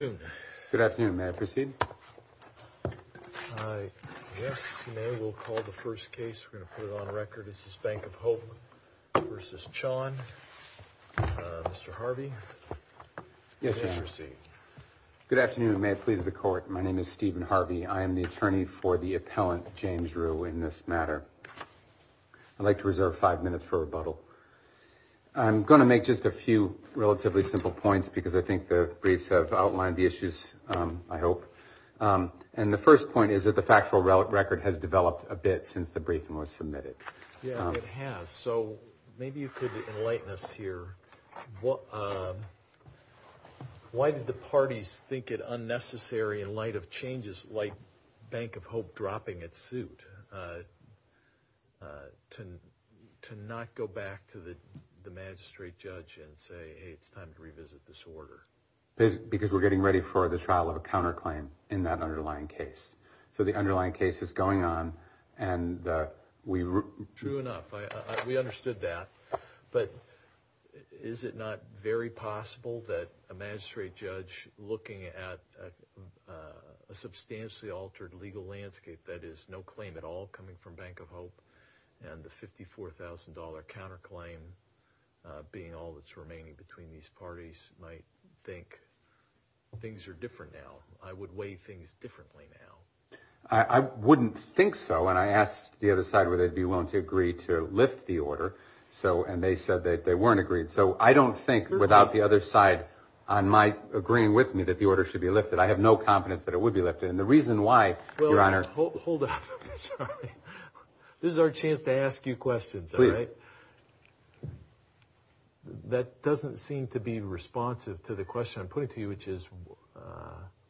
Good afternoon, may I proceed? Yes, you may. We'll call the first case. We're going to put it on record. This is Bank of Hope v. Chon. Mr. Harvey? Yes, Your Honor. Please proceed. Good afternoon, and may it please the Court. My name is Stephen Harvey. I am the attorney for the appellant, James Rue, in this matter. I'd like to reserve five minutes for rebuttal. I'm going to make just a few relatively simple points, because I think the briefs have outlined the issues, I hope. And the first point is that the factual record has developed a bit since the briefing was submitted. Yeah, it has. So maybe you could enlighten us here. Why did the parties think it unnecessary, in light of changes like Bank of Hope dropping its suit, to not go back to the magistrate judge and say, hey, it's time to revisit this order? Because we're getting ready for the trial of a counterclaim in that underlying case. So the underlying case is going on, and we... True enough. We understood that. But is it not very possible that a magistrate judge looking at a substantially altered legal landscape that is no claim at all coming from Bank of Hope, and the $54,000 counterclaim being all that's remaining between these parties, might think things are different now, I would weigh things differently now? I wouldn't think so. And I asked the other side whether they'd be willing to agree to lift the order, and they said that they weren't agreed. So I don't think, without the other side agreeing with me, that the order should be lifted. I have no confidence that it would be lifted. And the reason why, Your Honor... Well, hold on. This is our chance to ask you questions, all right? Please. That doesn't seem to be responsive to the question I'm putting to you, which is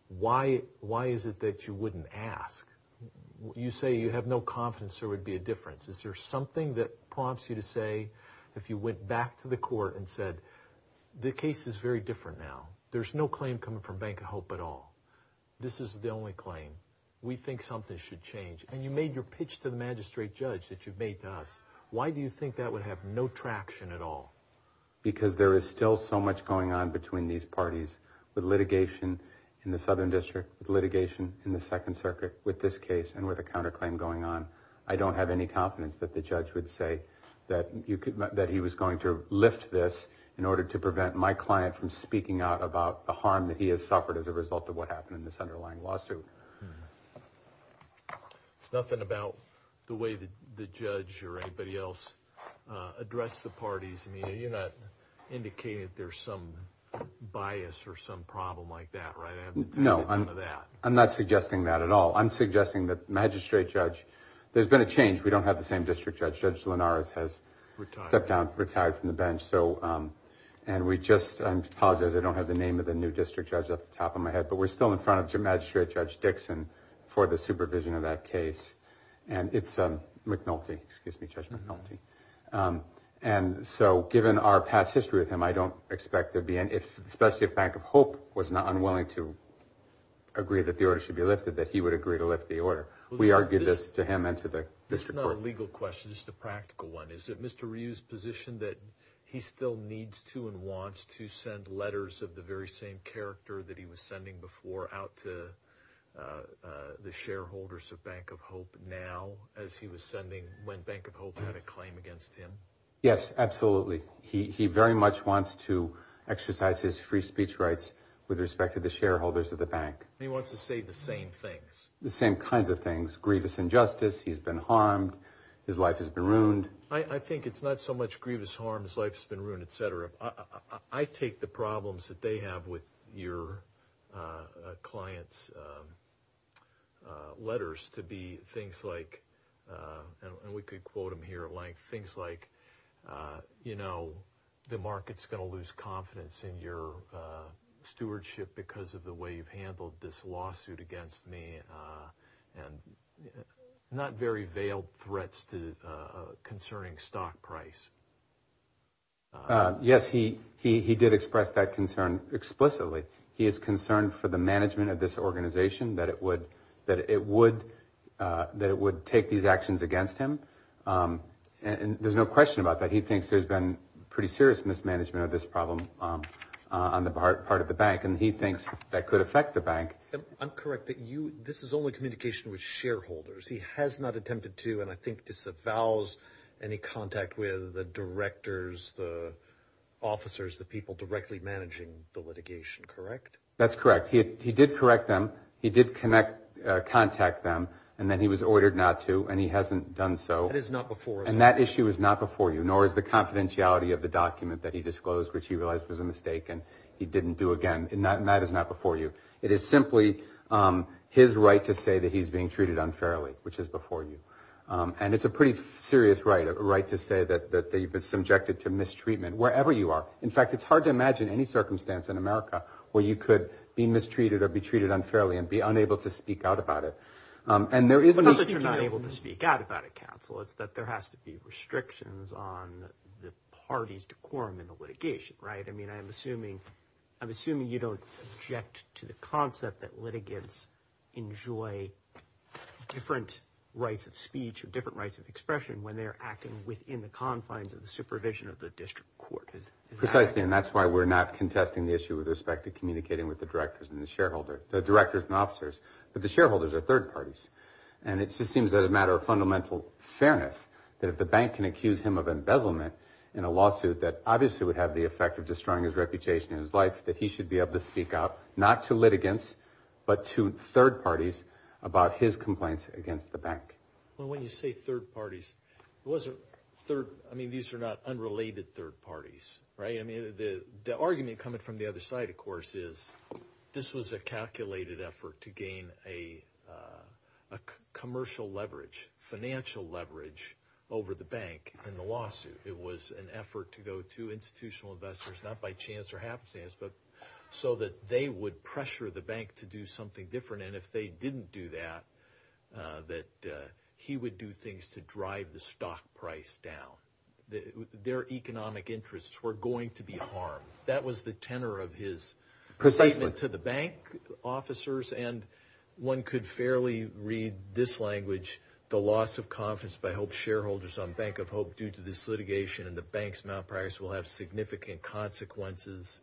why is it that you wouldn't ask? You say you have no confidence there would be a difference. Is there something that prompts you to say, if you went back to the court and said, the case is very different now, there's no claim coming from Bank of Hope at all, this is the only claim, we think something should change. And you made your pitch to the magistrate judge that you've made to us. Why do you think that would have no traction at all? Because there is still so much going on between these parties, with litigation in the Southern District, litigation in the Second Circuit, with this case and with a counterclaim going on. I don't have any confidence that the judge would say that he was going to lift this in order to prevent my client from speaking out about the harm that he has suffered as a result of what happened in this underlying lawsuit. It's nothing about the way the judge or anybody else addressed the parties. You're not indicating that there's some bias or some problem like that, right? No, I'm not suggesting that at all. I'm suggesting that magistrate judge, there's been a change. We don't have the same district judge. Judge Linares has stepped down, retired from the bench. And we just, I apologize, I don't have the name of the new district judge at the top of my head, but we're still in front of magistrate judge Dixon for the supervision of that case. And it's McNulty, excuse me, Judge McNulty. And so given our past history with him, I don't expect there to be any, especially if Bank of Hope was not unwilling to agree that the order should be lifted, that he would agree to lift the order. We argued this to him and to the district court. This is not a legal question, this is a practical one. Is it Mr. Ryu's position that he still needs to and wants to send letters of the very same character that he was sending before out to the shareholders of Bank of Hope now as he was sending when Bank of Hope had a claim against him? Yes, absolutely. He very much wants to exercise his free speech rights with respect to the shareholders of the bank. He wants to say the same things. The same kinds of things. Grievous injustice, he's been harmed, his life has been ruined. I think it's not so much grievous harms, life's been ruined, et cetera. I take the problems that they have with your clients' letters to be things like, and we could quote them here at length, things like, you know, the market's going to lose confidence in your stewardship because of the way you've handled this lawsuit against me and not very veiled threats concerning stock price. Yes, he did express that concern explicitly. He is concerned for the management of this organization, that it would take these actions against him, and there's no question about that. He thinks there's been pretty serious mismanagement of this problem on the part of the bank, and he thinks that could affect the bank. I'm correct that this is only communication with shareholders. He has not attempted to, and I think disavows, any contact with the directors, the officers, the people directly managing the litigation, correct? That's correct. He did correct them. He did contact them, and then he was ordered not to, and he hasn't done so. That is not before us. And that issue is not before you, nor is the confidentiality of the document that he disclosed, which he realized was a mistake, and he didn't do again. That is not before you. It is simply his right to say that he's being treated unfairly, which is before you. And it's a pretty serious right, a right to say that you've been subjected to mistreatment wherever you are. In fact, it's hard to imagine any circumstance in America where you could be mistreated or be treated unfairly and be unable to speak out about it. And there is no speaking out. It's not that you're not able to speak out about it, counsel. It's that there has to be restrictions on the parties to quorum in the litigation, right? I'm assuming you don't object to the concept that litigants enjoy different rights of speech or different rights of expression when they're acting within the confines of the supervision of the district court. Precisely, and that's why we're not contesting the issue with respect to communicating with the directors and officers, but the shareholders are third parties. And it just seems that as a matter of fundamental fairness, that if the bank can accuse him of embezzlement in a lawsuit that obviously would have the effect of destroying his reputation and his life, that he should be able to speak out, not to litigants, but to third parties about his complaints against the bank. Well, when you say third parties, I mean, these are not unrelated third parties, right? I mean, the argument coming from the other side, of course, is this was a calculated effort to gain a commercial leverage, financial leverage over the bank in the lawsuit. It was an effort to go to institutional investors, not by chance or happenstance, but so that they would pressure the bank to do something different. And if they didn't do that, that he would do things to drive the stock price down. Their economic interests were going to be harmed. That was the tenor of his statement to the bank officers. And one could fairly read this language, the loss of confidence by HOPE shareholders on Bank of HOPE due to this litigation and the bank's malpractice will have significant consequences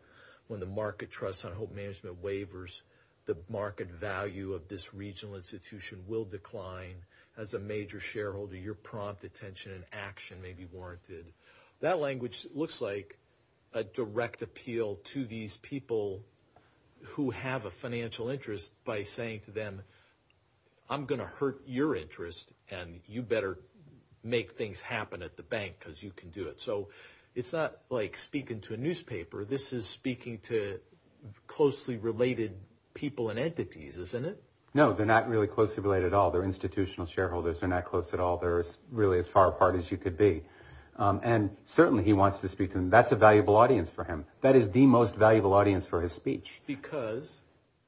when the market trusts on HOPE management waivers. The market value of this regional institution will decline. As a major shareholder, your prompt attention and action may be warranted. That language looks like a direct appeal to these people who have a financial interest by saying to them, I'm going to hurt your interest and you better make things happen at the bank because you can do it. So it's not like speaking to a newspaper. This is speaking to closely related people and entities, isn't it? No, they're not really closely related at all. They're institutional shareholders. They're not close at all. They're really as far apart as you could be. And certainly he wants to speak to them. That's a valuable audience for him. That is the most valuable audience for his speech. Because?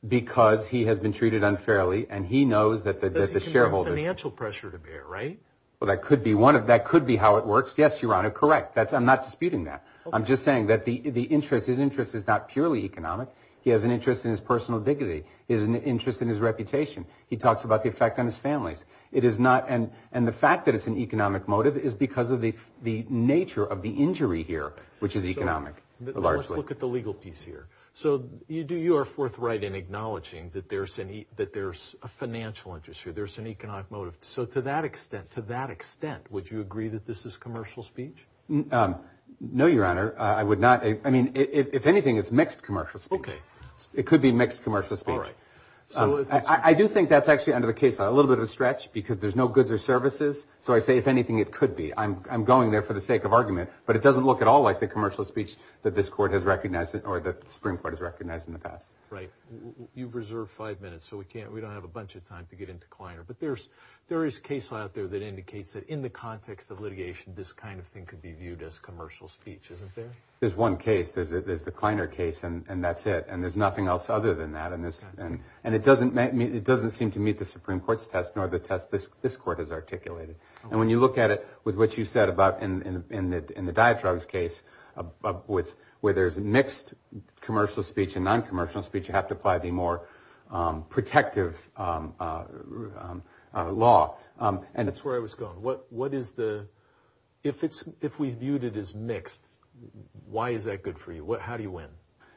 Because he has been treated unfairly and he knows that the shareholder There's financial pressure to bear, right? Well, that could be how it works. Yes, Your Honor, correct. I'm not disputing that. I'm just saying that his interest is not purely economic. He has an interest in his personal dignity. He has an interest in his reputation. He talks about the effect on his family. And the fact that it's an economic motive is because of the nature of the injury here, which is economic, largely. Let's look at the legal piece here. So you are forthright in acknowledging that there's a financial interest here. There's an economic motive. So to that extent, would you agree that this is commercial speech? No, Your Honor. I would not. I mean, if anything, it's mixed commercial speech. Okay. It could be mixed commercial speech. All right. I do think that's actually under the case law. A little bit of a stretch because there's no goods or services. So I say, if anything, it could be. I'm going there for the sake of argument. But it doesn't look at all like the commercial speech that this court has recognized or that the Supreme Court has recognized in the past. Right. You've reserved five minutes, so we don't have a bunch of time to get into Kleiner. But there is a case law out there that indicates that in the context of litigation, this kind of thing could be viewed as commercial speech, isn't there? There's one case. There's the Kleiner case, and that's it. And there's nothing else other than that. And it doesn't seem to meet the Supreme Court's test nor the test this court has articulated. And when you look at it with what you said about in the diet drugs case, where there's mixed commercial speech and non-commercial speech, you have to apply the more protective law. That's where I was going. If we viewed it as mixed, why is that good for you? How do you win?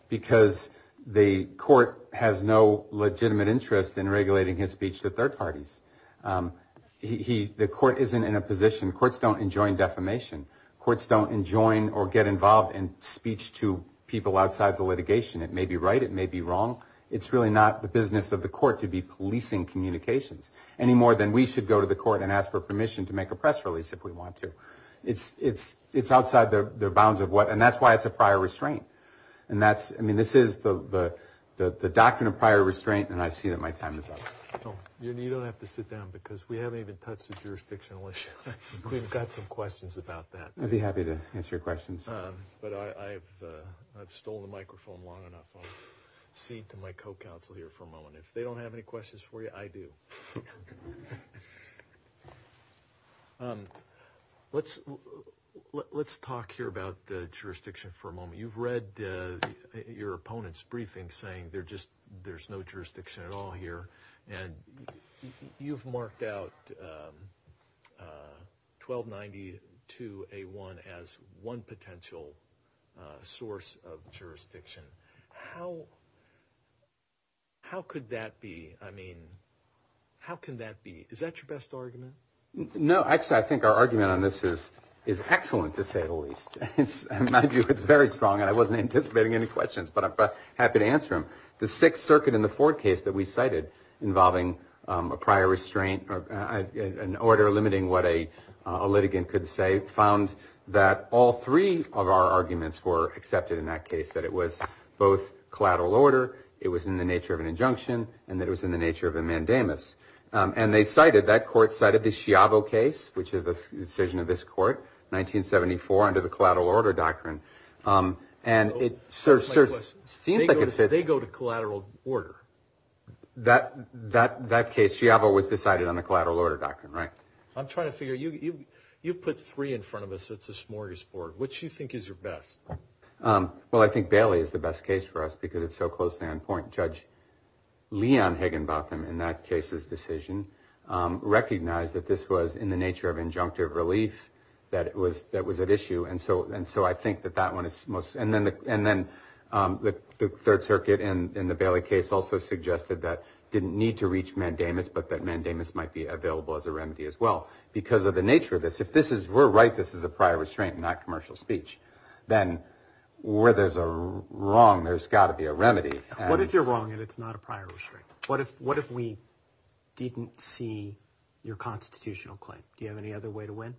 Because the court has no legitimate interest in regulating his speech to third parties. The court isn't in a position. Courts don't enjoin defamation. Courts don't enjoin or get involved in speech to people outside the litigation. It may be right. It may be wrong. It's really not the business of the court to be policing communications any more than we should go to the court and ask for permission to make a press release if we want to. It's outside the bounds of what – and that's why it's a prior restraint. And that's – I mean, this is the doctrine of prior restraint, and I see that my time is up. You don't have to sit down because we haven't even touched the jurisdictional issue. We've got some questions about that. I'd be happy to answer your questions. But I've stolen the microphone long enough. I'll cede to my co-counsel here for a moment. If they don't have any questions for you, I do. Let's talk here about jurisdiction for a moment. You've read your opponent's briefing saying there's no jurisdiction at all here, and you've marked out 1292A1 as one potential source of jurisdiction. How could that be? I mean, how can that be? Is that your best argument? No, actually, I think our argument on this is excellent, to say the least. It's very strong, and I wasn't anticipating any questions, but I'm happy to answer them. The Sixth Circuit in the Ford case that we cited involving a prior restraint or an order limiting what a litigant could say found that all three of our arguments were accepted in that case, that it was both collateral order, it was in the nature of an injunction, and that it was in the nature of a mandamus. And they cited, that court cited the Schiavo case, which is the decision of this court, 1974 under the collateral order doctrine, and it seems like it fits. They go to collateral order. That case, Schiavo was decided on the collateral order doctrine, right? I'm trying to figure, you put three in front of us, it's a smorgasbord. Which do you think is your best? Well, I think Bailey is the best case for us because it's so close to end point. Judge Leon Higginbotham, in that case's decision, recognized that this was in the nature of injunctive relief that was at issue, and so I think that that one is most, and then the Third Circuit in the Bailey case also suggested that it didn't need to reach mandamus, but that mandamus might be available as a remedy as well because of the nature of this. If this is, we're right, this is a prior restraint, not commercial speech. Then where there's a wrong, there's got to be a remedy. What if you're wrong and it's not a prior restraint? What if we didn't see your constitutional claim? Do you have any other way to win?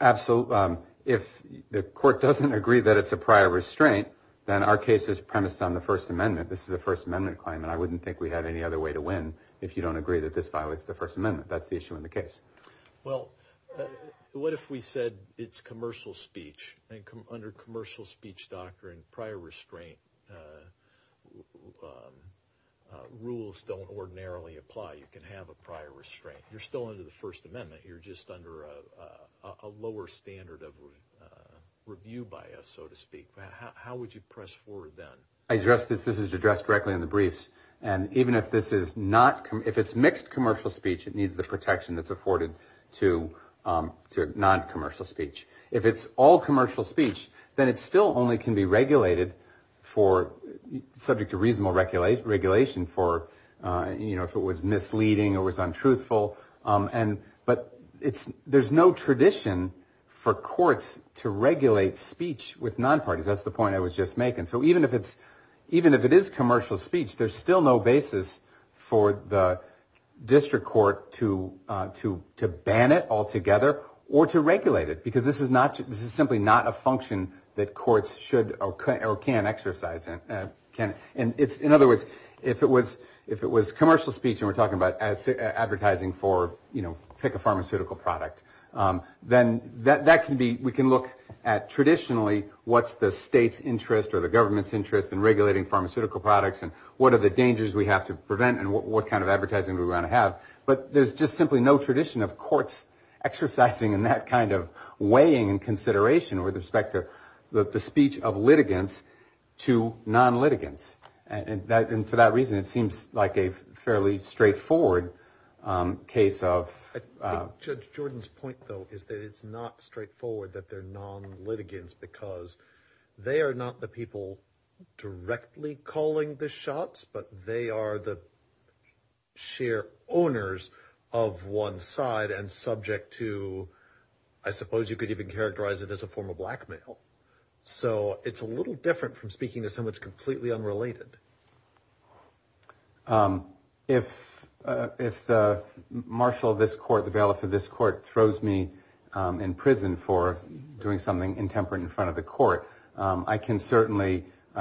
Absolutely. If the court doesn't agree that it's a prior restraint, then our case is premised on the First Amendment. This is a First Amendment claim, and I wouldn't think we have any other way to win if you don't agree that this violates the First Amendment. That's the issue in the case. Well, what if we said it's commercial speech, and under commercial speech doctrine, prior restraint rules don't ordinarily apply. You can have a prior restraint. You're still under the First Amendment. You're just under a lower standard of review by us, so to speak. How would you press forward then? This is addressed directly in the briefs, and even if this is not, if it's mixed commercial speech, it needs the protection that's afforded to non-commercial speech. If it's all commercial speech, then it still only can be regulated for, subject to reasonable regulation for, you know, if it was misleading or was untruthful. But there's no tradition for courts to regulate speech with non-parties. That's the point I was just making. So even if it is commercial speech, there's still no basis for the district court to ban it altogether or to regulate it because this is simply not a function that courts should or can exercise. In other words, if it was commercial speech and we're talking about advertising for, you know, take a pharmaceutical product, then we can look at traditionally what's the state's interest or the government's interest in regulating pharmaceutical products and what are the dangers we have to prevent and what kind of advertising we want to have. But there's just simply no tradition of courts exercising in that kind of weighing and consideration with respect to the speech of litigants to non-litigants. And for that reason, it seems like a fairly straightforward case of. I think Judge Jordan's point, though, is that it's not straightforward that they're non-litigants because they are not the people directly calling the shots, but they are the sheer owners of one side and subject to I suppose you could even characterize it as a form of blackmail. So it's a little different from speaking to someone completely unrelated. If the marshal of this court, the bailiff of this court, throws me in prison for doing something intemperate in front of the court, I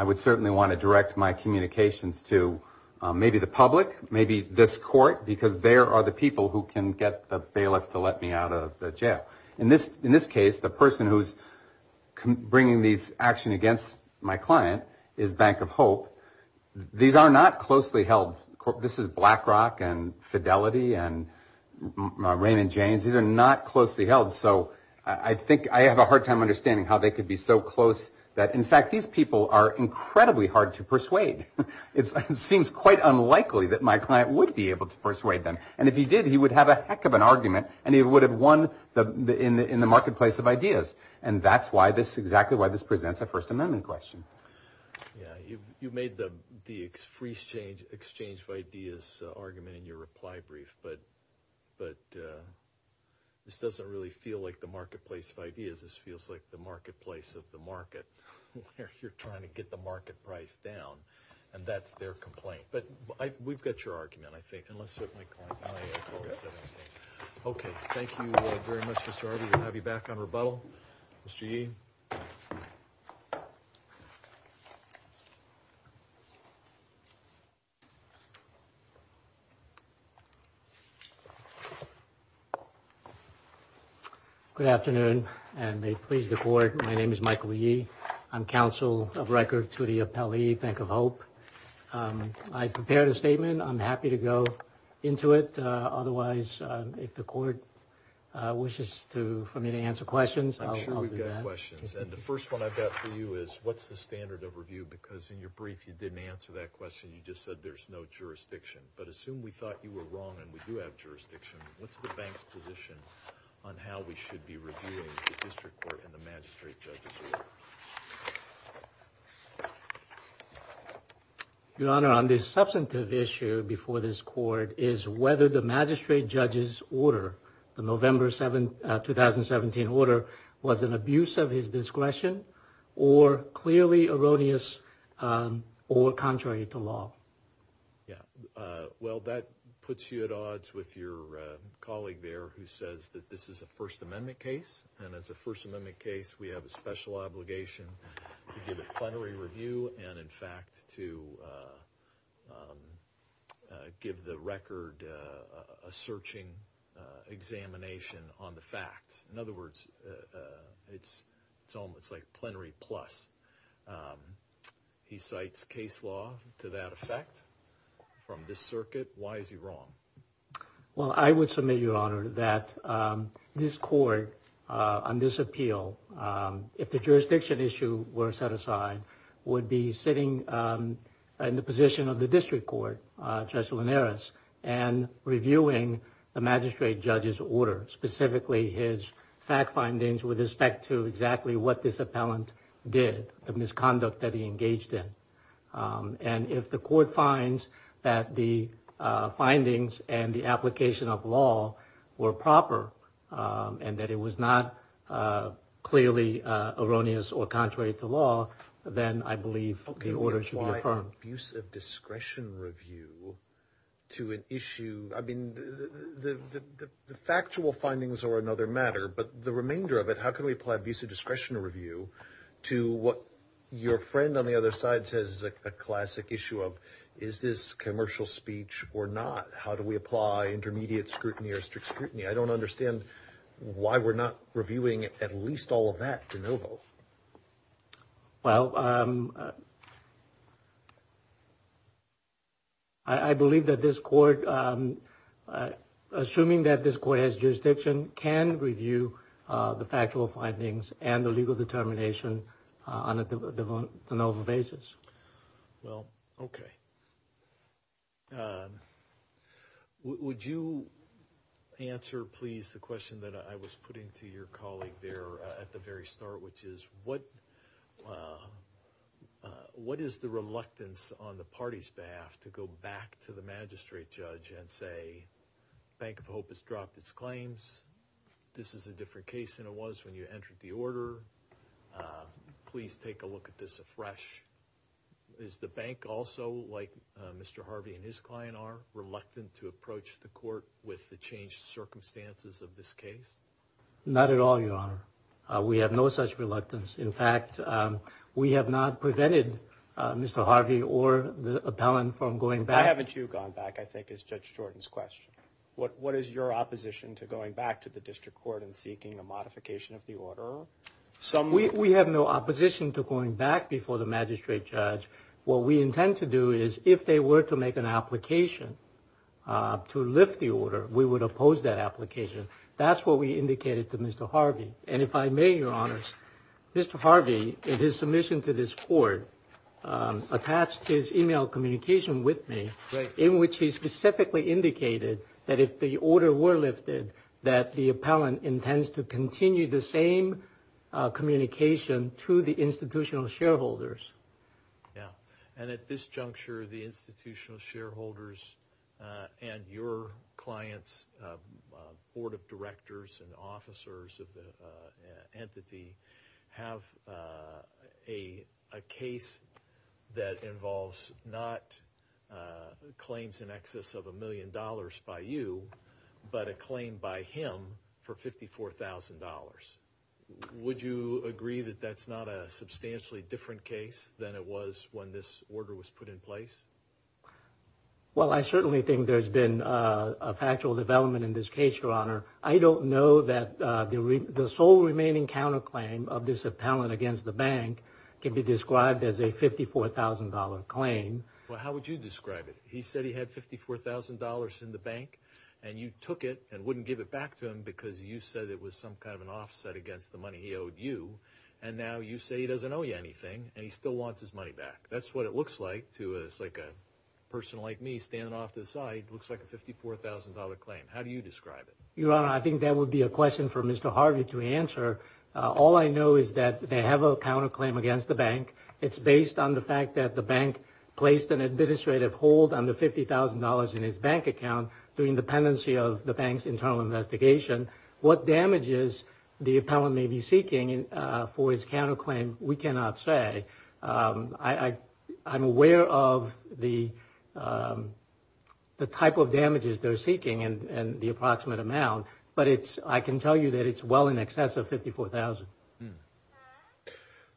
would certainly want to direct my communications to maybe the public, maybe this court, because there are the people who can get the bailiff to let me out of the jail. In this case, the person who's bringing these actions against my client is Bank of Hope. These are not closely held. This is BlackRock and Fidelity and Raymond James. These are not closely held. So I think I have a hard time understanding how they could be so close that, in fact, these people are incredibly hard to persuade. It seems quite unlikely that my client would be able to persuade them. And if he did, he would have a heck of an argument, and he would have won in the marketplace of ideas. And that's exactly why this presents a First Amendment question. You made the free exchange of ideas argument in your reply brief, but this doesn't really feel like the marketplace of ideas. This feels like the marketplace of the market. You're trying to get the market price down, and that's their complaint. But we've got your argument, I think, and let's certainly go on. Okay, thank you very much, Mr. Harvey. We'll have you back on rebuttal. Mr. Yee? Good afternoon, and may it please the Court, my name is Michael Yee. I'm counsel of record to the appellee, Bank of Hope. I prepared a statement. I'm happy to go into it. Otherwise, if the Court wishes for me to answer questions, I'll do that. I'm sure we've got questions. And the first one I've got for you is, what's the standard of review? Because in your brief, you didn't answer that question. You just said there's no jurisdiction. But assume we thought you were wrong and we do have jurisdiction, what's the bank's position on how we should be reviewing the district court and the magistrate judge's order? Your Honor, on this substantive issue before this Court, is whether the magistrate judge's order, the November 2017 order, was an abuse of his discretion or clearly erroneous or contrary to law. Yeah. Well, that puts you at odds with your colleague there who says that this is a First Amendment case. And as a First Amendment case, we have a special obligation to give a plenary review and, in fact, to give the record a searching examination on the facts. In other words, it's almost like plenary plus. He cites case law to that effect from this circuit. Why is he wrong? Well, I would submit, Your Honor, that this Court on this appeal, if the jurisdiction issue were set aside, would be sitting in the position of the district court, Judge Linares, and reviewing the magistrate judge's order, specifically his fact findings with respect to exactly what this appellant did, the misconduct that he engaged in. And if the Court finds that the findings and the application of law were proper and that it was not clearly erroneous or contrary to law, then I believe the order should be affirmed. Okay, why an abuse of discretion review to an issue? I mean, the factual findings are another matter, but the remainder of it, how can we apply abuse of discretion review to what your friend on the other side says is a classic issue of is this commercial speech or not? How do we apply intermediate scrutiny or strict scrutiny? I don't understand why we're not reviewing at least all of that de novo. Well, I believe that this Court, assuming that this Court has jurisdiction, can review the factual findings and the legal determination on a de novo basis. Well, okay. Would you answer, please, the question that I was putting to your colleague there at the very start, which is what is the reluctance on the party's behalf to go back to the magistrate judge and say, Bank of Hope has dropped its claims, this is a different case than it was when you entered the order, please take a look at this afresh. Is the bank also, like Mr. Harvey and his client are, reluctant to approach the Court with the changed circumstances of this case? Not at all, Your Honor. We have no such reluctance. In fact, we have not prevented Mr. Harvey or the appellant from going back. Why haven't you gone back, I think, is Judge Jordan's question. What is your opposition to going back to the district court and seeking a modification of the order? We have no opposition to going back before the magistrate judge. What we intend to do is if they were to make an application to lift the order, we would oppose that application. That's what we indicated to Mr. Harvey. And if I may, Your Honor, Mr. Harvey, in his submission to this Court, attached his e-mail communication with me, in which he specifically indicated that if the order were lifted, that the appellant intends to continue the same communication to the institutional shareholders. And at this juncture, the institutional shareholders and your clients, board of directors and officers of the entity, have a case that involves not claims in excess of a million dollars by you, but a claim by him for $54,000. Would you agree that that's not a substantially different case than it was when this order was put in place? Well, I certainly think there's been a factual development in this case, Your Honor. I don't know that the sole remaining counterclaim of this appellant against the bank can be described as a $54,000 claim. Well, how would you describe it? He said he had $54,000 in the bank, and you took it and wouldn't give it back to him because you said it was some kind of an offset against the money he owed you. And now you say he doesn't owe you anything, and he still wants his money back. That's what it looks like to a person like me standing off to the side. It looks like a $54,000 claim. How do you describe it? Your Honor, I think that would be a question for Mr. Harvey to answer. All I know is that they have a counterclaim against the bank. It's based on the fact that the bank placed an administrative hold on the $50,000 in his bank account during the pendency of the bank's internal investigation. What damages the appellant may be seeking for his counterclaim, we cannot say. I'm aware of the type of damages they're seeking and the approximate amount, but I can tell you that it's well in excess of $54,000.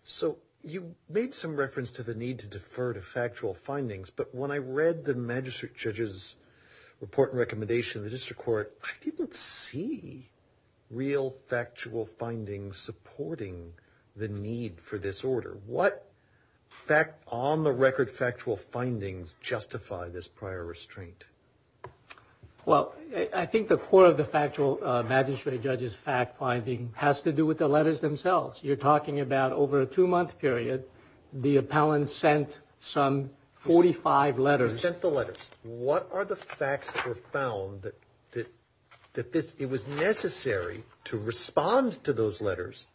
So you made some reference to the need to defer to factual findings, but when I read the magistrate judge's report and recommendation in the district court, I didn't see real factual findings supporting the need for this order. What on-the-record factual findings justify this prior restraint? Well, I think the core of the magistrate judge's fact-finding has to do with the letters themselves. You're talking about over a two-month period, the appellant sent some 45 letters. He sent the letters. What are the facts that were found that it was necessary to respond to those letters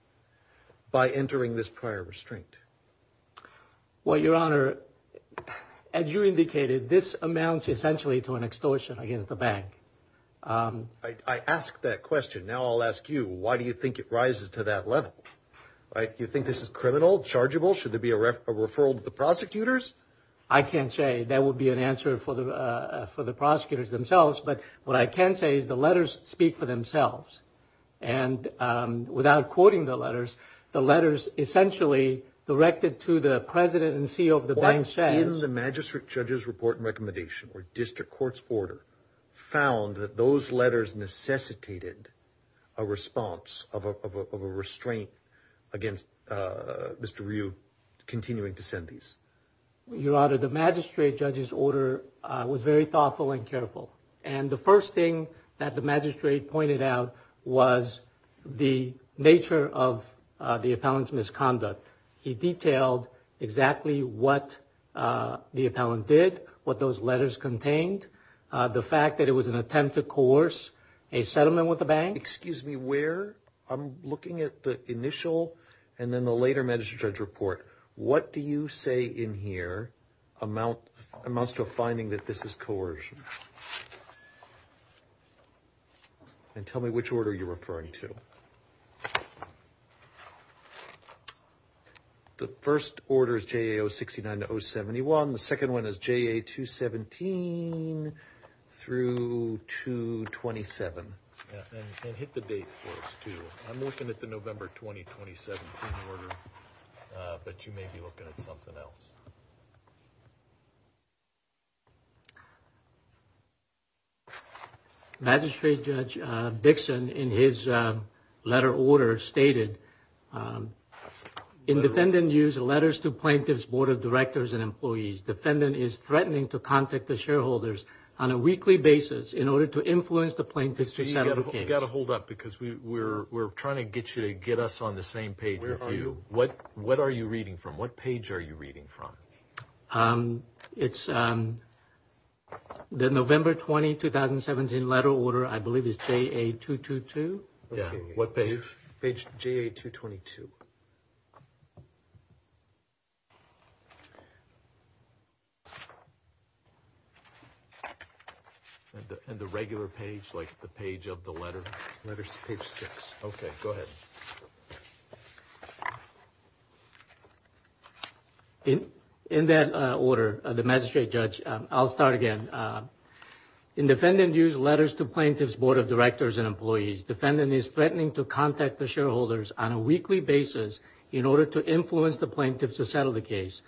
by entering this prior restraint? Well, Your Honor, as you indicated, this amounts essentially to an extortion against the bank. I asked that question. Now I'll ask you, why do you think it rises to that level? You think this is criminal, chargeable? Should there be a referral to the prosecutors? I can't say. That would be an answer for the prosecutors themselves, but what I can say is the letters speak for themselves. And without quoting the letters, the letters essentially directed to the president and CEO of the bank's shares. What in the magistrate judge's report and recommendation or district court's order found that those letters necessitated a response of a restraint against Mr. Ryu continuing to send these? Your Honor, the magistrate judge's order was very thoughtful and careful. And the first thing that the magistrate pointed out was the nature of the appellant's misconduct. He detailed exactly what the appellant did, what those letters contained, the fact that it was an attempt to coerce a settlement with the bank. Excuse me, where? I'm looking at the initial and then the later magistrate judge's report. What do you say in here amounts to a finding that this is coercion? And tell me which order you're referring to. The first order is JA 069 to 071. The second one is JA 217 through 227. And hit the date for us, too. I'm looking at the November 20, 2017 order, but you may be looking at something else. Magistrate Judge Dixon, in his letter order, stated, in defendant used letters to plaintiffs, board of directors, and employees. Defendant is threatening to contact the shareholders on a weekly basis in order to influence the plaintiffs to settle cases. We've got to hold up because we're trying to get you to get us on the same page as you. What are you reading from? What page are you reading from? It's the November 20, 2017 letter order, I believe it's JA 222. What page? Page JA 222. And the regular page, like the page of the letter? Page six. Okay, go ahead. In that order, the magistrate judge, I'll start again. In defendant used letters to plaintiffs, board of directors, and employees, defendant is threatening to contact the shareholders on a weekly basis in order to influence the plaintiffs to settle the case.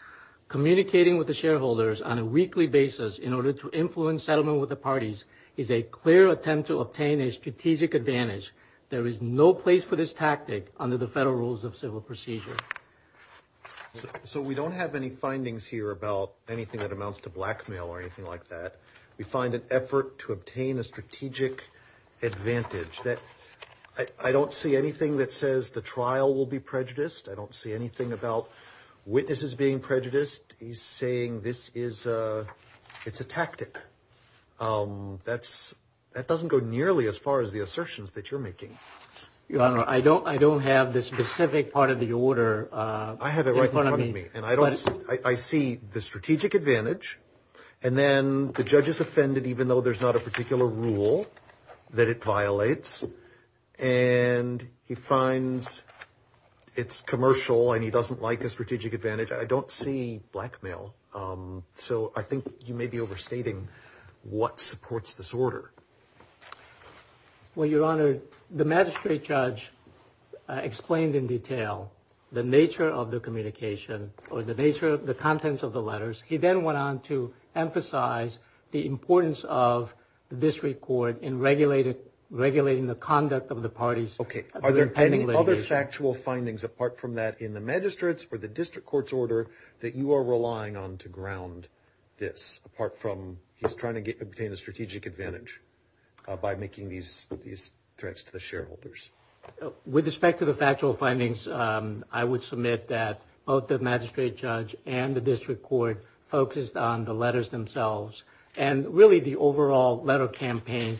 Communicating with the shareholders on a weekly basis in order to influence settlement with the parties is a clear attempt to obtain a strategic advantage. There is no place for this tactic under the federal rules of civil procedure. So we don't have any findings here about anything that amounts to blackmail or anything like that. We find an effort to obtain a strategic advantage. I don't see anything that says the trial will be prejudiced. I don't see anything about witnesses being prejudiced. He's saying it's a tactic. That doesn't go nearly as far as the assertions that you're making. Your Honor, I don't have the specific part of the order in front of me. I have it right in front of me, and I see the strategic advantage, and then the judge is offended even though there's not a particular rule that it violates, and he finds it's commercial and he doesn't like a strategic advantage. I don't see blackmail. So I think you may be overstating what supports this order. Well, Your Honor, the magistrate judge explained in detail the nature of the communication or the contents of the letters. He then went on to emphasize the importance of the district court in regulating the conduct of the parties. Okay. Are there any other factual findings apart from that in the magistrates or the district court's order that you are relying on to ground this, apart from he's trying to obtain a strategic advantage by making these threats to the shareholders? With respect to the factual findings, I would submit that both the magistrate judge and the district court focused on the letters themselves and really the overall letter campaign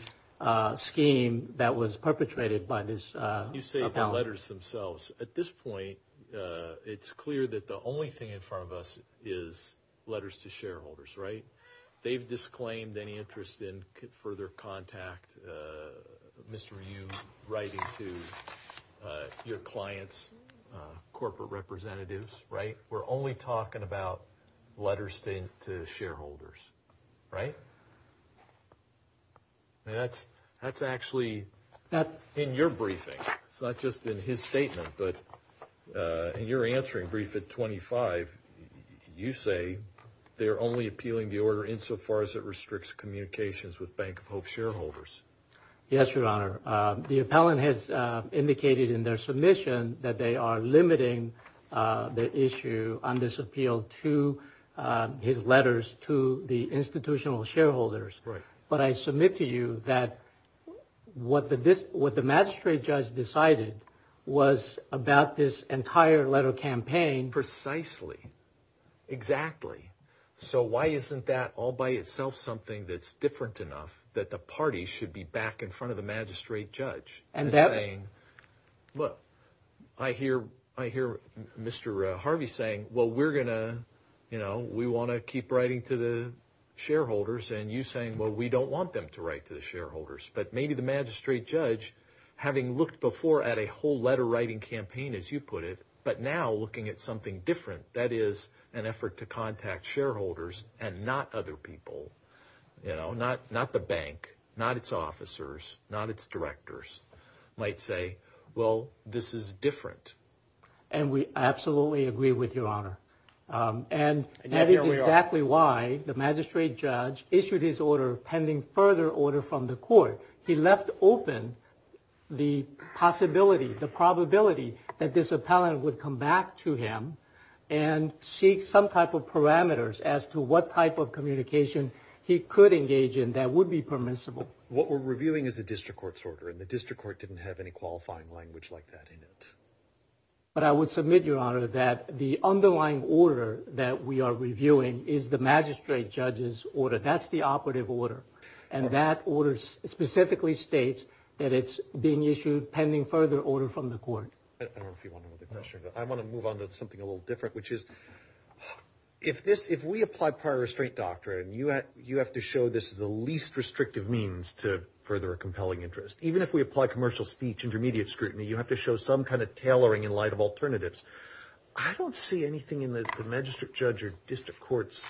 scheme that was perpetrated by this appellant. You say the letters themselves. At this point, it's clear that the only thing in front of us is letters to shareholders, right? They've disclaimed any interest in further contact, Mr. Ryu, writing to your clients, corporate representatives, right? We're only talking about letters to shareholders, right? That's actually not in your briefing. It's not just in his statement, but in your answering brief at 25, you say they're only appealing the order insofar as it restricts communications with Bank of Hope shareholders. Yes, Your Honor. The appellant has indicated in their submission that they are limiting the issue on this appeal to his letters to the institutional shareholders. Right. But I submit to you that what the magistrate judge decided was about this entire letter campaign. Precisely. Exactly. So why isn't that all by itself something that's different enough that the party should be back in front of the magistrate judge? Look, I hear Mr. Harvey saying, well, we want to keep writing to the shareholders, and you saying, well, we don't want them to write to the shareholders. But maybe the magistrate judge, having looked before at a whole letter writing campaign, as you put it, but now looking at something different, that is an effort to contact shareholders and not other people, not the bank, not its officers, not its directors, might say, well, this is different. And we absolutely agree with you, Your Honor. And that is exactly why the magistrate judge issued his order pending further order from the court. He left open the possibility, the probability that this appellant would come back to him and seek some type of parameters as to what type of communication he could engage in that would be permissible. What we're reviewing is the district court's order, and the district court didn't have any qualifying language like that in it. But I would submit, Your Honor, that the underlying order that we are reviewing is the magistrate judge's order. That's the operative order. And that order specifically states that it's being issued pending further order from the court. I don't know if you want to move to the next one. I want to move on to something a little different, which is if we apply prior restraint doctrine, you have to show this is the least restrictive means to further a compelling interest. Even if we apply commercial speech, intermediate scrutiny, you have to show some kind of tailoring in light of alternatives. I don't see anything in the magistrate judge or district court's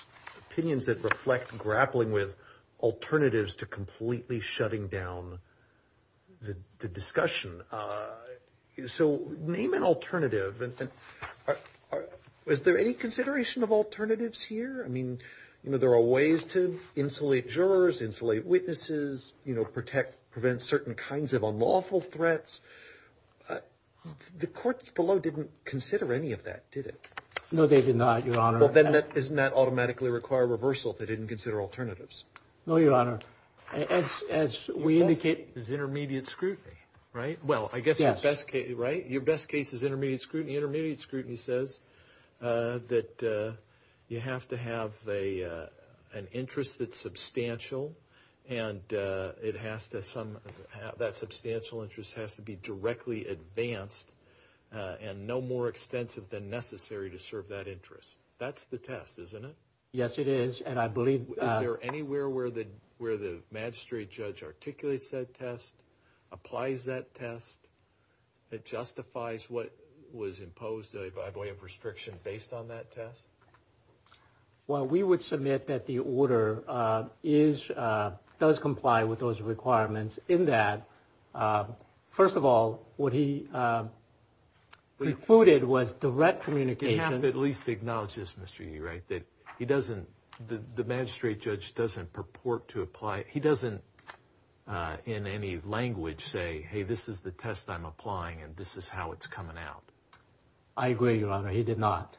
opinions that reflect grappling with alternatives to completely shutting down the discussion. So name an alternative. Was there any consideration of alternatives here? I mean, you know, there are ways to insulate jurors, insulate witnesses, you know, protect, prevent certain kinds of unlawful threats. The courts below didn't consider any of that, did it? No, they did not, Your Honor. Well, then doesn't that automatically require reversal if they didn't consider alternatives? No, Your Honor. As we indicate, it's intermediate scrutiny, right? Well, I guess your best case, right? Your best case is intermediate scrutiny. And that substantial interest has to be directly advanced and no more extensive than necessary to serve that interest. That's the test, isn't it? Yes, it is. And I believe... Is there anywhere where the magistrate judge articulates that test, applies that test, that justifies what was imposed by way of restriction based on that test? Well, we would submit that the order does comply with those requirements in that, first of all, what he recorded was direct communication... You have to at least acknowledge this, Mr. Yee, right, that he doesn't... The magistrate judge doesn't purport to apply... He doesn't, in any language, say, hey, this is the test I'm applying and this is how it's coming out. I agree, Your Honor. He did not.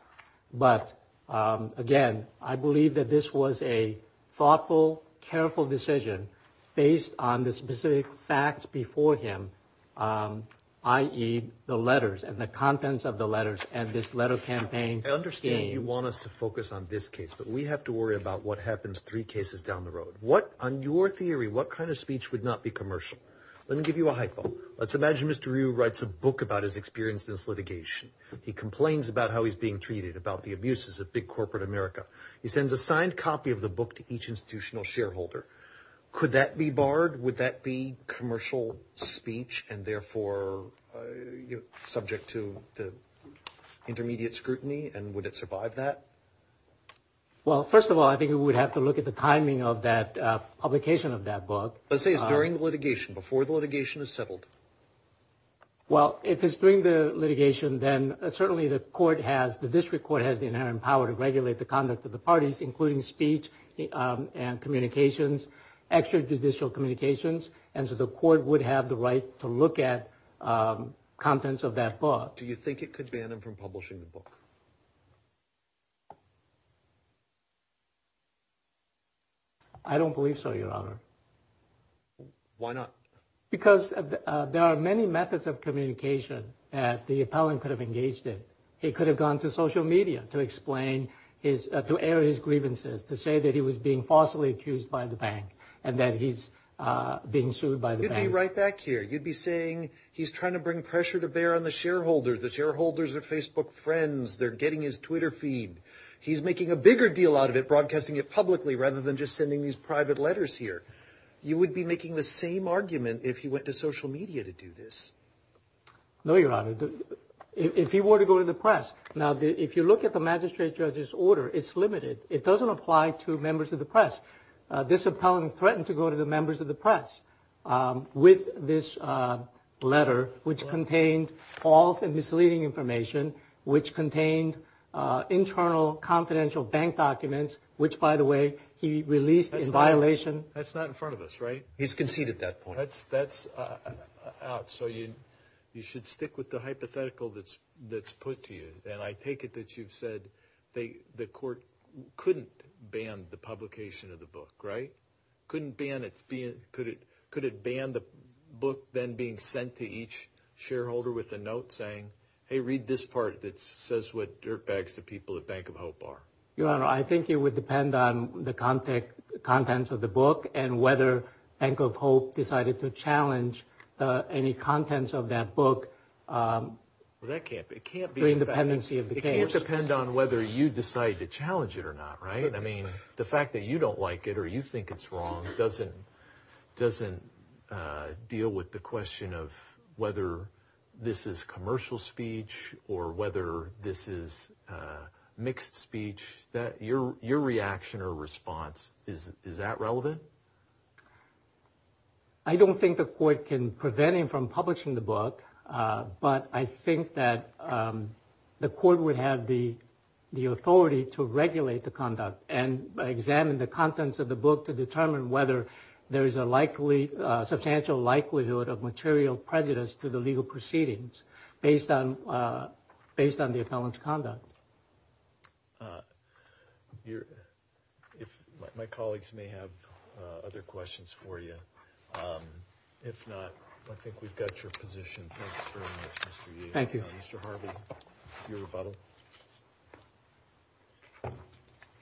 But, again, I believe that this was a thoughtful, careful decision based on the specific facts before him, i.e. the letters and the contents of the letters and this letter campaign scheme. I understand you want us to focus on this case, but we have to worry about what happens three cases down the road. On your theory, what kind of speech would not be commercial? Let me give you a hypo. Let's imagine Mr. Ryu writes a book about his experience in this litigation. He complains about how he's being treated, about the abuses of big corporate America. He sends a signed copy of the book to each institutional shareholder. Could that be barred? Would that be commercial speech and, therefore, subject to intermediate scrutiny, and would it survive that? Well, first of all, I think we would have to look at the timing of that publication of that book. Let's say it's during the litigation, before the litigation is settled. Well, if it's during the litigation, then certainly the court has, the district court has the inherent power to regulate the conduct of the parties, including speech and communications, extrajudicial communications, and so the court would have the right to look at contents of that book. Do you think it could ban him from publishing the book? I don't believe so, Your Honor. Why not? Because there are many methods of communication that the appellant could have engaged in. He could have gone to social media to explain his, to air his grievances, to say that he was being falsely accused by the bank and that he's being sued by the bank. You'd be right back here. You'd be saying he's trying to bring pressure to bear on the shareholders. The shareholders are Facebook friends. They're getting his Twitter feed. He's making a bigger deal out of it, broadcasting it publicly, rather than just sending these private letters here. You would be making the same argument if he went to social media to do this. No, Your Honor. If he were to go to the press, now, if you look at the magistrate judge's order, it's limited. It doesn't apply to members of the press. This appellant threatened to go to the members of the press with this letter, which contained false and misleading information, which contained internal confidential bank documents, which, by the way, he released in violation. That's not in front of us, right? He's conceded that point. That's out. So you should stick with the hypothetical that's put to you. And I take it that you've said the court couldn't ban the publication of the book, right? Couldn't ban it. Could it ban the book then being sent to each shareholder with a note saying, hey, read this part that says what dirtbags the people at Bank of Hope are? Your Honor, I think it would depend on the contents of the book and whether Bank of Hope decided to challenge any contents of that book. It can't depend on whether you decide to challenge it or not, right? I mean, the fact that you don't like it or you think it's wrong doesn't deal with the question of whether this is commercial speech or whether this is mixed speech. Your reaction or response, is that relevant? I don't think the court can prevent him from publishing the book, but I think that the court would have the authority to regulate the conduct and examine the contents of the book to determine whether there is a substantial likelihood of material prejudice to the legal proceedings based on the appellant's conduct. My colleagues may have other questions for you. If not, I think we've got your position. Thanks very much, Mr. Yee. Thank you. Mr. Harvey, your rebuttal.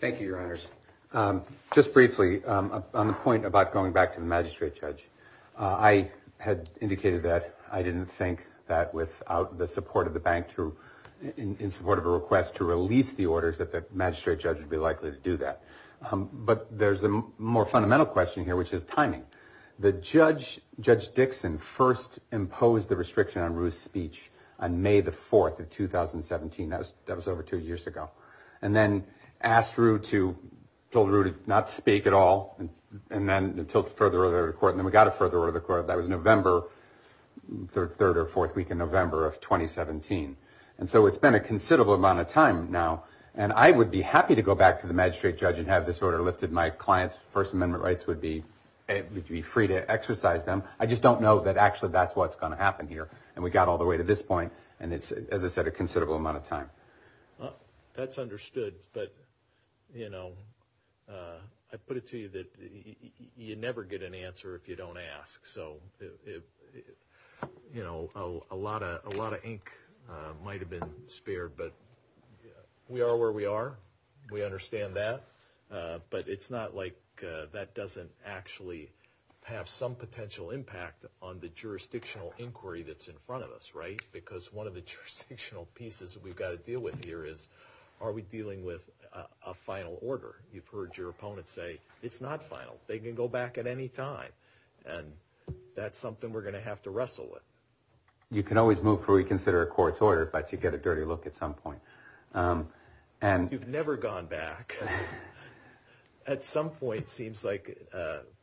Thank you, Your Honors. Just briefly, on the point about going back to the magistrate judge, I had indicated that I didn't think that without the support of the bank, in support of a request to release the orders, that the magistrate judge would be likely to do that. But there's a more fundamental question here, which is timing. Judge Dixon first imposed the restriction on Rue's speech on May the 4th of 2017. That was over two years ago. And then asked Rue to not speak at all until further order of the court. And then we got a further order of the court. That was November, the third or fourth week in November of 2017. And so it's been a considerable amount of time now. And I would be happy to go back to the magistrate judge and have this order lifted. My client's First Amendment rights would be free to exercise them. I just don't know that actually that's what's going to happen here. And we got all the way to this point, and it's, as I said, a considerable amount of time. That's understood. But, you know, I put it to you that you never get an answer if you don't ask. So, you know, a lot of ink might have been spared. But we are where we are. We understand that. But it's not like that doesn't actually have some potential impact on the jurisdictional inquiry that's in front of us, right? Because one of the jurisdictional pieces that we've got to deal with here is are we dealing with a final order? You've heard your opponent say it's not final. They can go back at any time. And that's something we're going to have to wrestle with. You can always move before you consider a court's order, but you get a dirty look at some point. You've never gone back. At some point, it seems like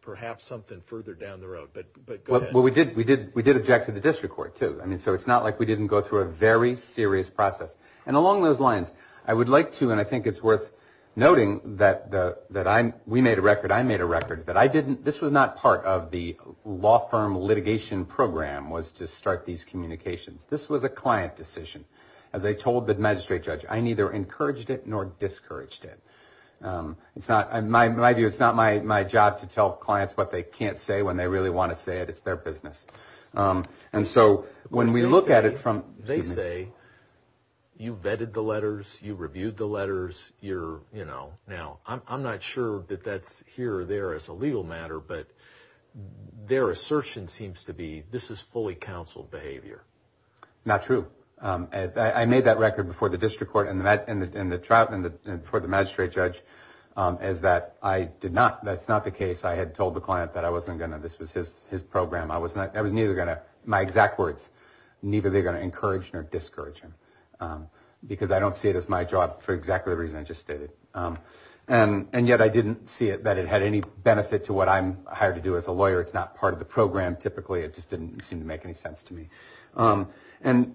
perhaps something further down the road. But go ahead. Well, we did object to the district court, too. So it's not like we didn't go through a very serious process. And along those lines, I would like to, and I think it's worth noting that we made a record, I made a record, that this was not part of the law firm litigation program was to start these communications. This was a client decision. As I told the magistrate judge, I neither encouraged it nor discouraged it. In my view, it's not my job to tell clients what they can't say when they really want to say it. It's their business. And so when we look at it from- They say, you vetted the letters, you reviewed the letters, you're, you know. Now, I'm not sure that that's here or there as a legal matter, but their assertion seems to be this is fully counseled behavior. Not true. I made that record before the district court and the trial, and before the magistrate judge, is that I did not, that's not the case. I had told the client that I wasn't going to, this was his program. I was neither going to, my exact words, neither were they going to encourage nor discourage him, because I don't see it as my job for exactly the reason I just stated. And yet I didn't see that it had any benefit to what I'm hired to do as a lawyer. It's not part of the program, typically. It just didn't seem to make any sense to me. And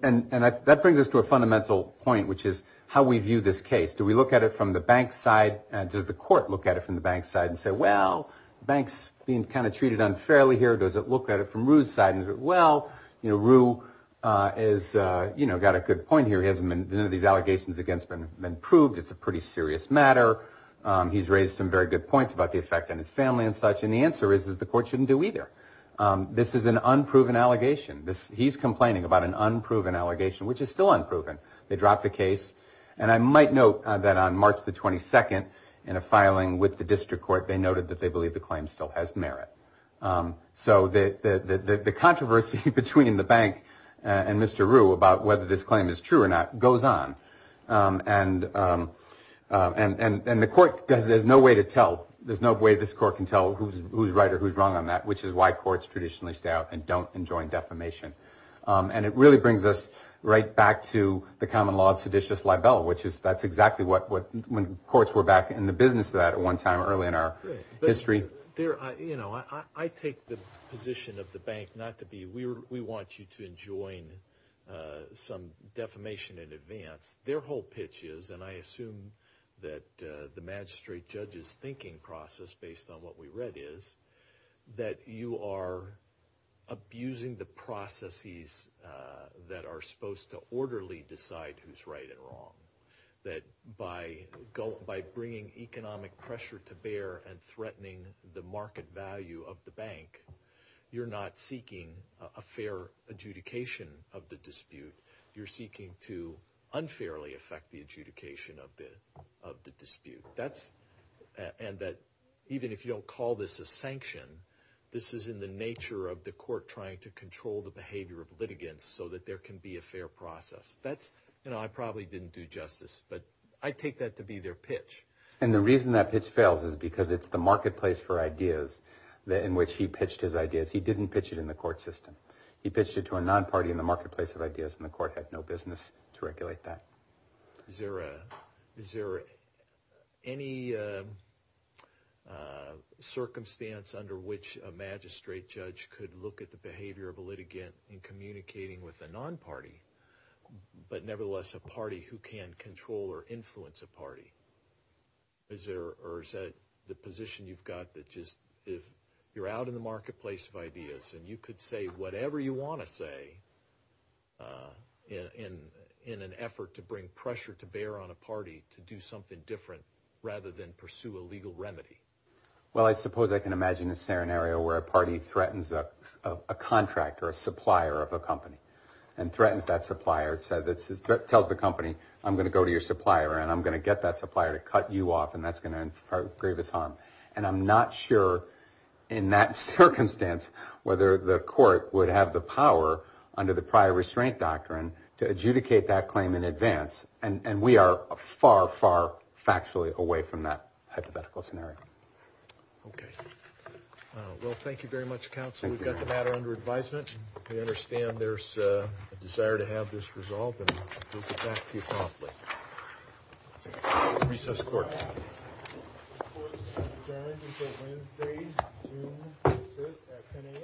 that brings us to a fundamental point, which is how we view this case. Do we look at it from the bank's side? Does the court look at it from the bank's side and say, well, the bank's being kind of treated unfairly here. Does it look at it from Rue's side and say, well, Rue has got a good point here. None of these allegations against him have been proved. It's a pretty serious matter. He's raised some very good points about the effect on his family and such, and the answer is that the court shouldn't do either. This is an unproven allegation. He's complaining about an unproven allegation, which is still unproven. They dropped the case. And I might note that on March the 22nd, in a filing with the district court, they noted that they believe the claim still has merit. So the controversy between the bank and Mr. Rue about whether this claim is true or not goes on. And the court has no way to tell. There's no way this court can tell who's right or who's wrong on that, which is why courts traditionally stay out and don't enjoin defamation. And it really brings us right back to the common law of seditious libel, which is that's exactly when courts were back in the business of that at one time early in our history. I take the position of the bank not to be we want you to enjoin some defamation in advance. Their whole pitch is, and I assume that the magistrate judge's thinking process, based on what we read, is that you are abusing the processes that are supposed to orderly decide who's right and wrong. That by bringing economic pressure to bear and threatening the market value of the bank, you're not seeking a fair adjudication of the dispute. You're seeking to unfairly affect the adjudication of the dispute. And that even if you don't call this a sanction, this is in the nature of the court trying to control the behavior of litigants so that there can be a fair process. I probably didn't do justice, but I take that to be their pitch. And the reason that pitch fails is because it's the marketplace for ideas in which he pitched his ideas. He didn't pitch it in the court system. He pitched it to a non-party in the marketplace of ideas, and the court had no business to regulate that. Is there any circumstance under which a magistrate judge could look at the behavior of a litigant in communicating with a non-party, but nevertheless a party who can control or influence a party? Or is that the position you've got that just if you're out in the marketplace of ideas and you could say whatever you want to say in an effort to bring pressure to bear on a party to do something different rather than pursue a legal remedy? Well, I suppose I can imagine a scenario where a party threatens a contract or a supplier of a company and threatens that supplier and tells the company, I'm going to go to your supplier and I'm going to get that supplier to cut you off, and that's going to inflict the greatest harm. And I'm not sure in that circumstance whether the court would have the power under the prior restraint doctrine to adjudicate that claim in advance, and we are far, far factually away from that hypothetical scenario. Okay. Well, thank you very much, counsel. We've got the matter under advisement. We understand there's a desire to have this resolved, and we'll get back to you promptly. Recess court. This court is adjourned until Wednesday, June 5th at 10 a.m.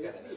Thank you.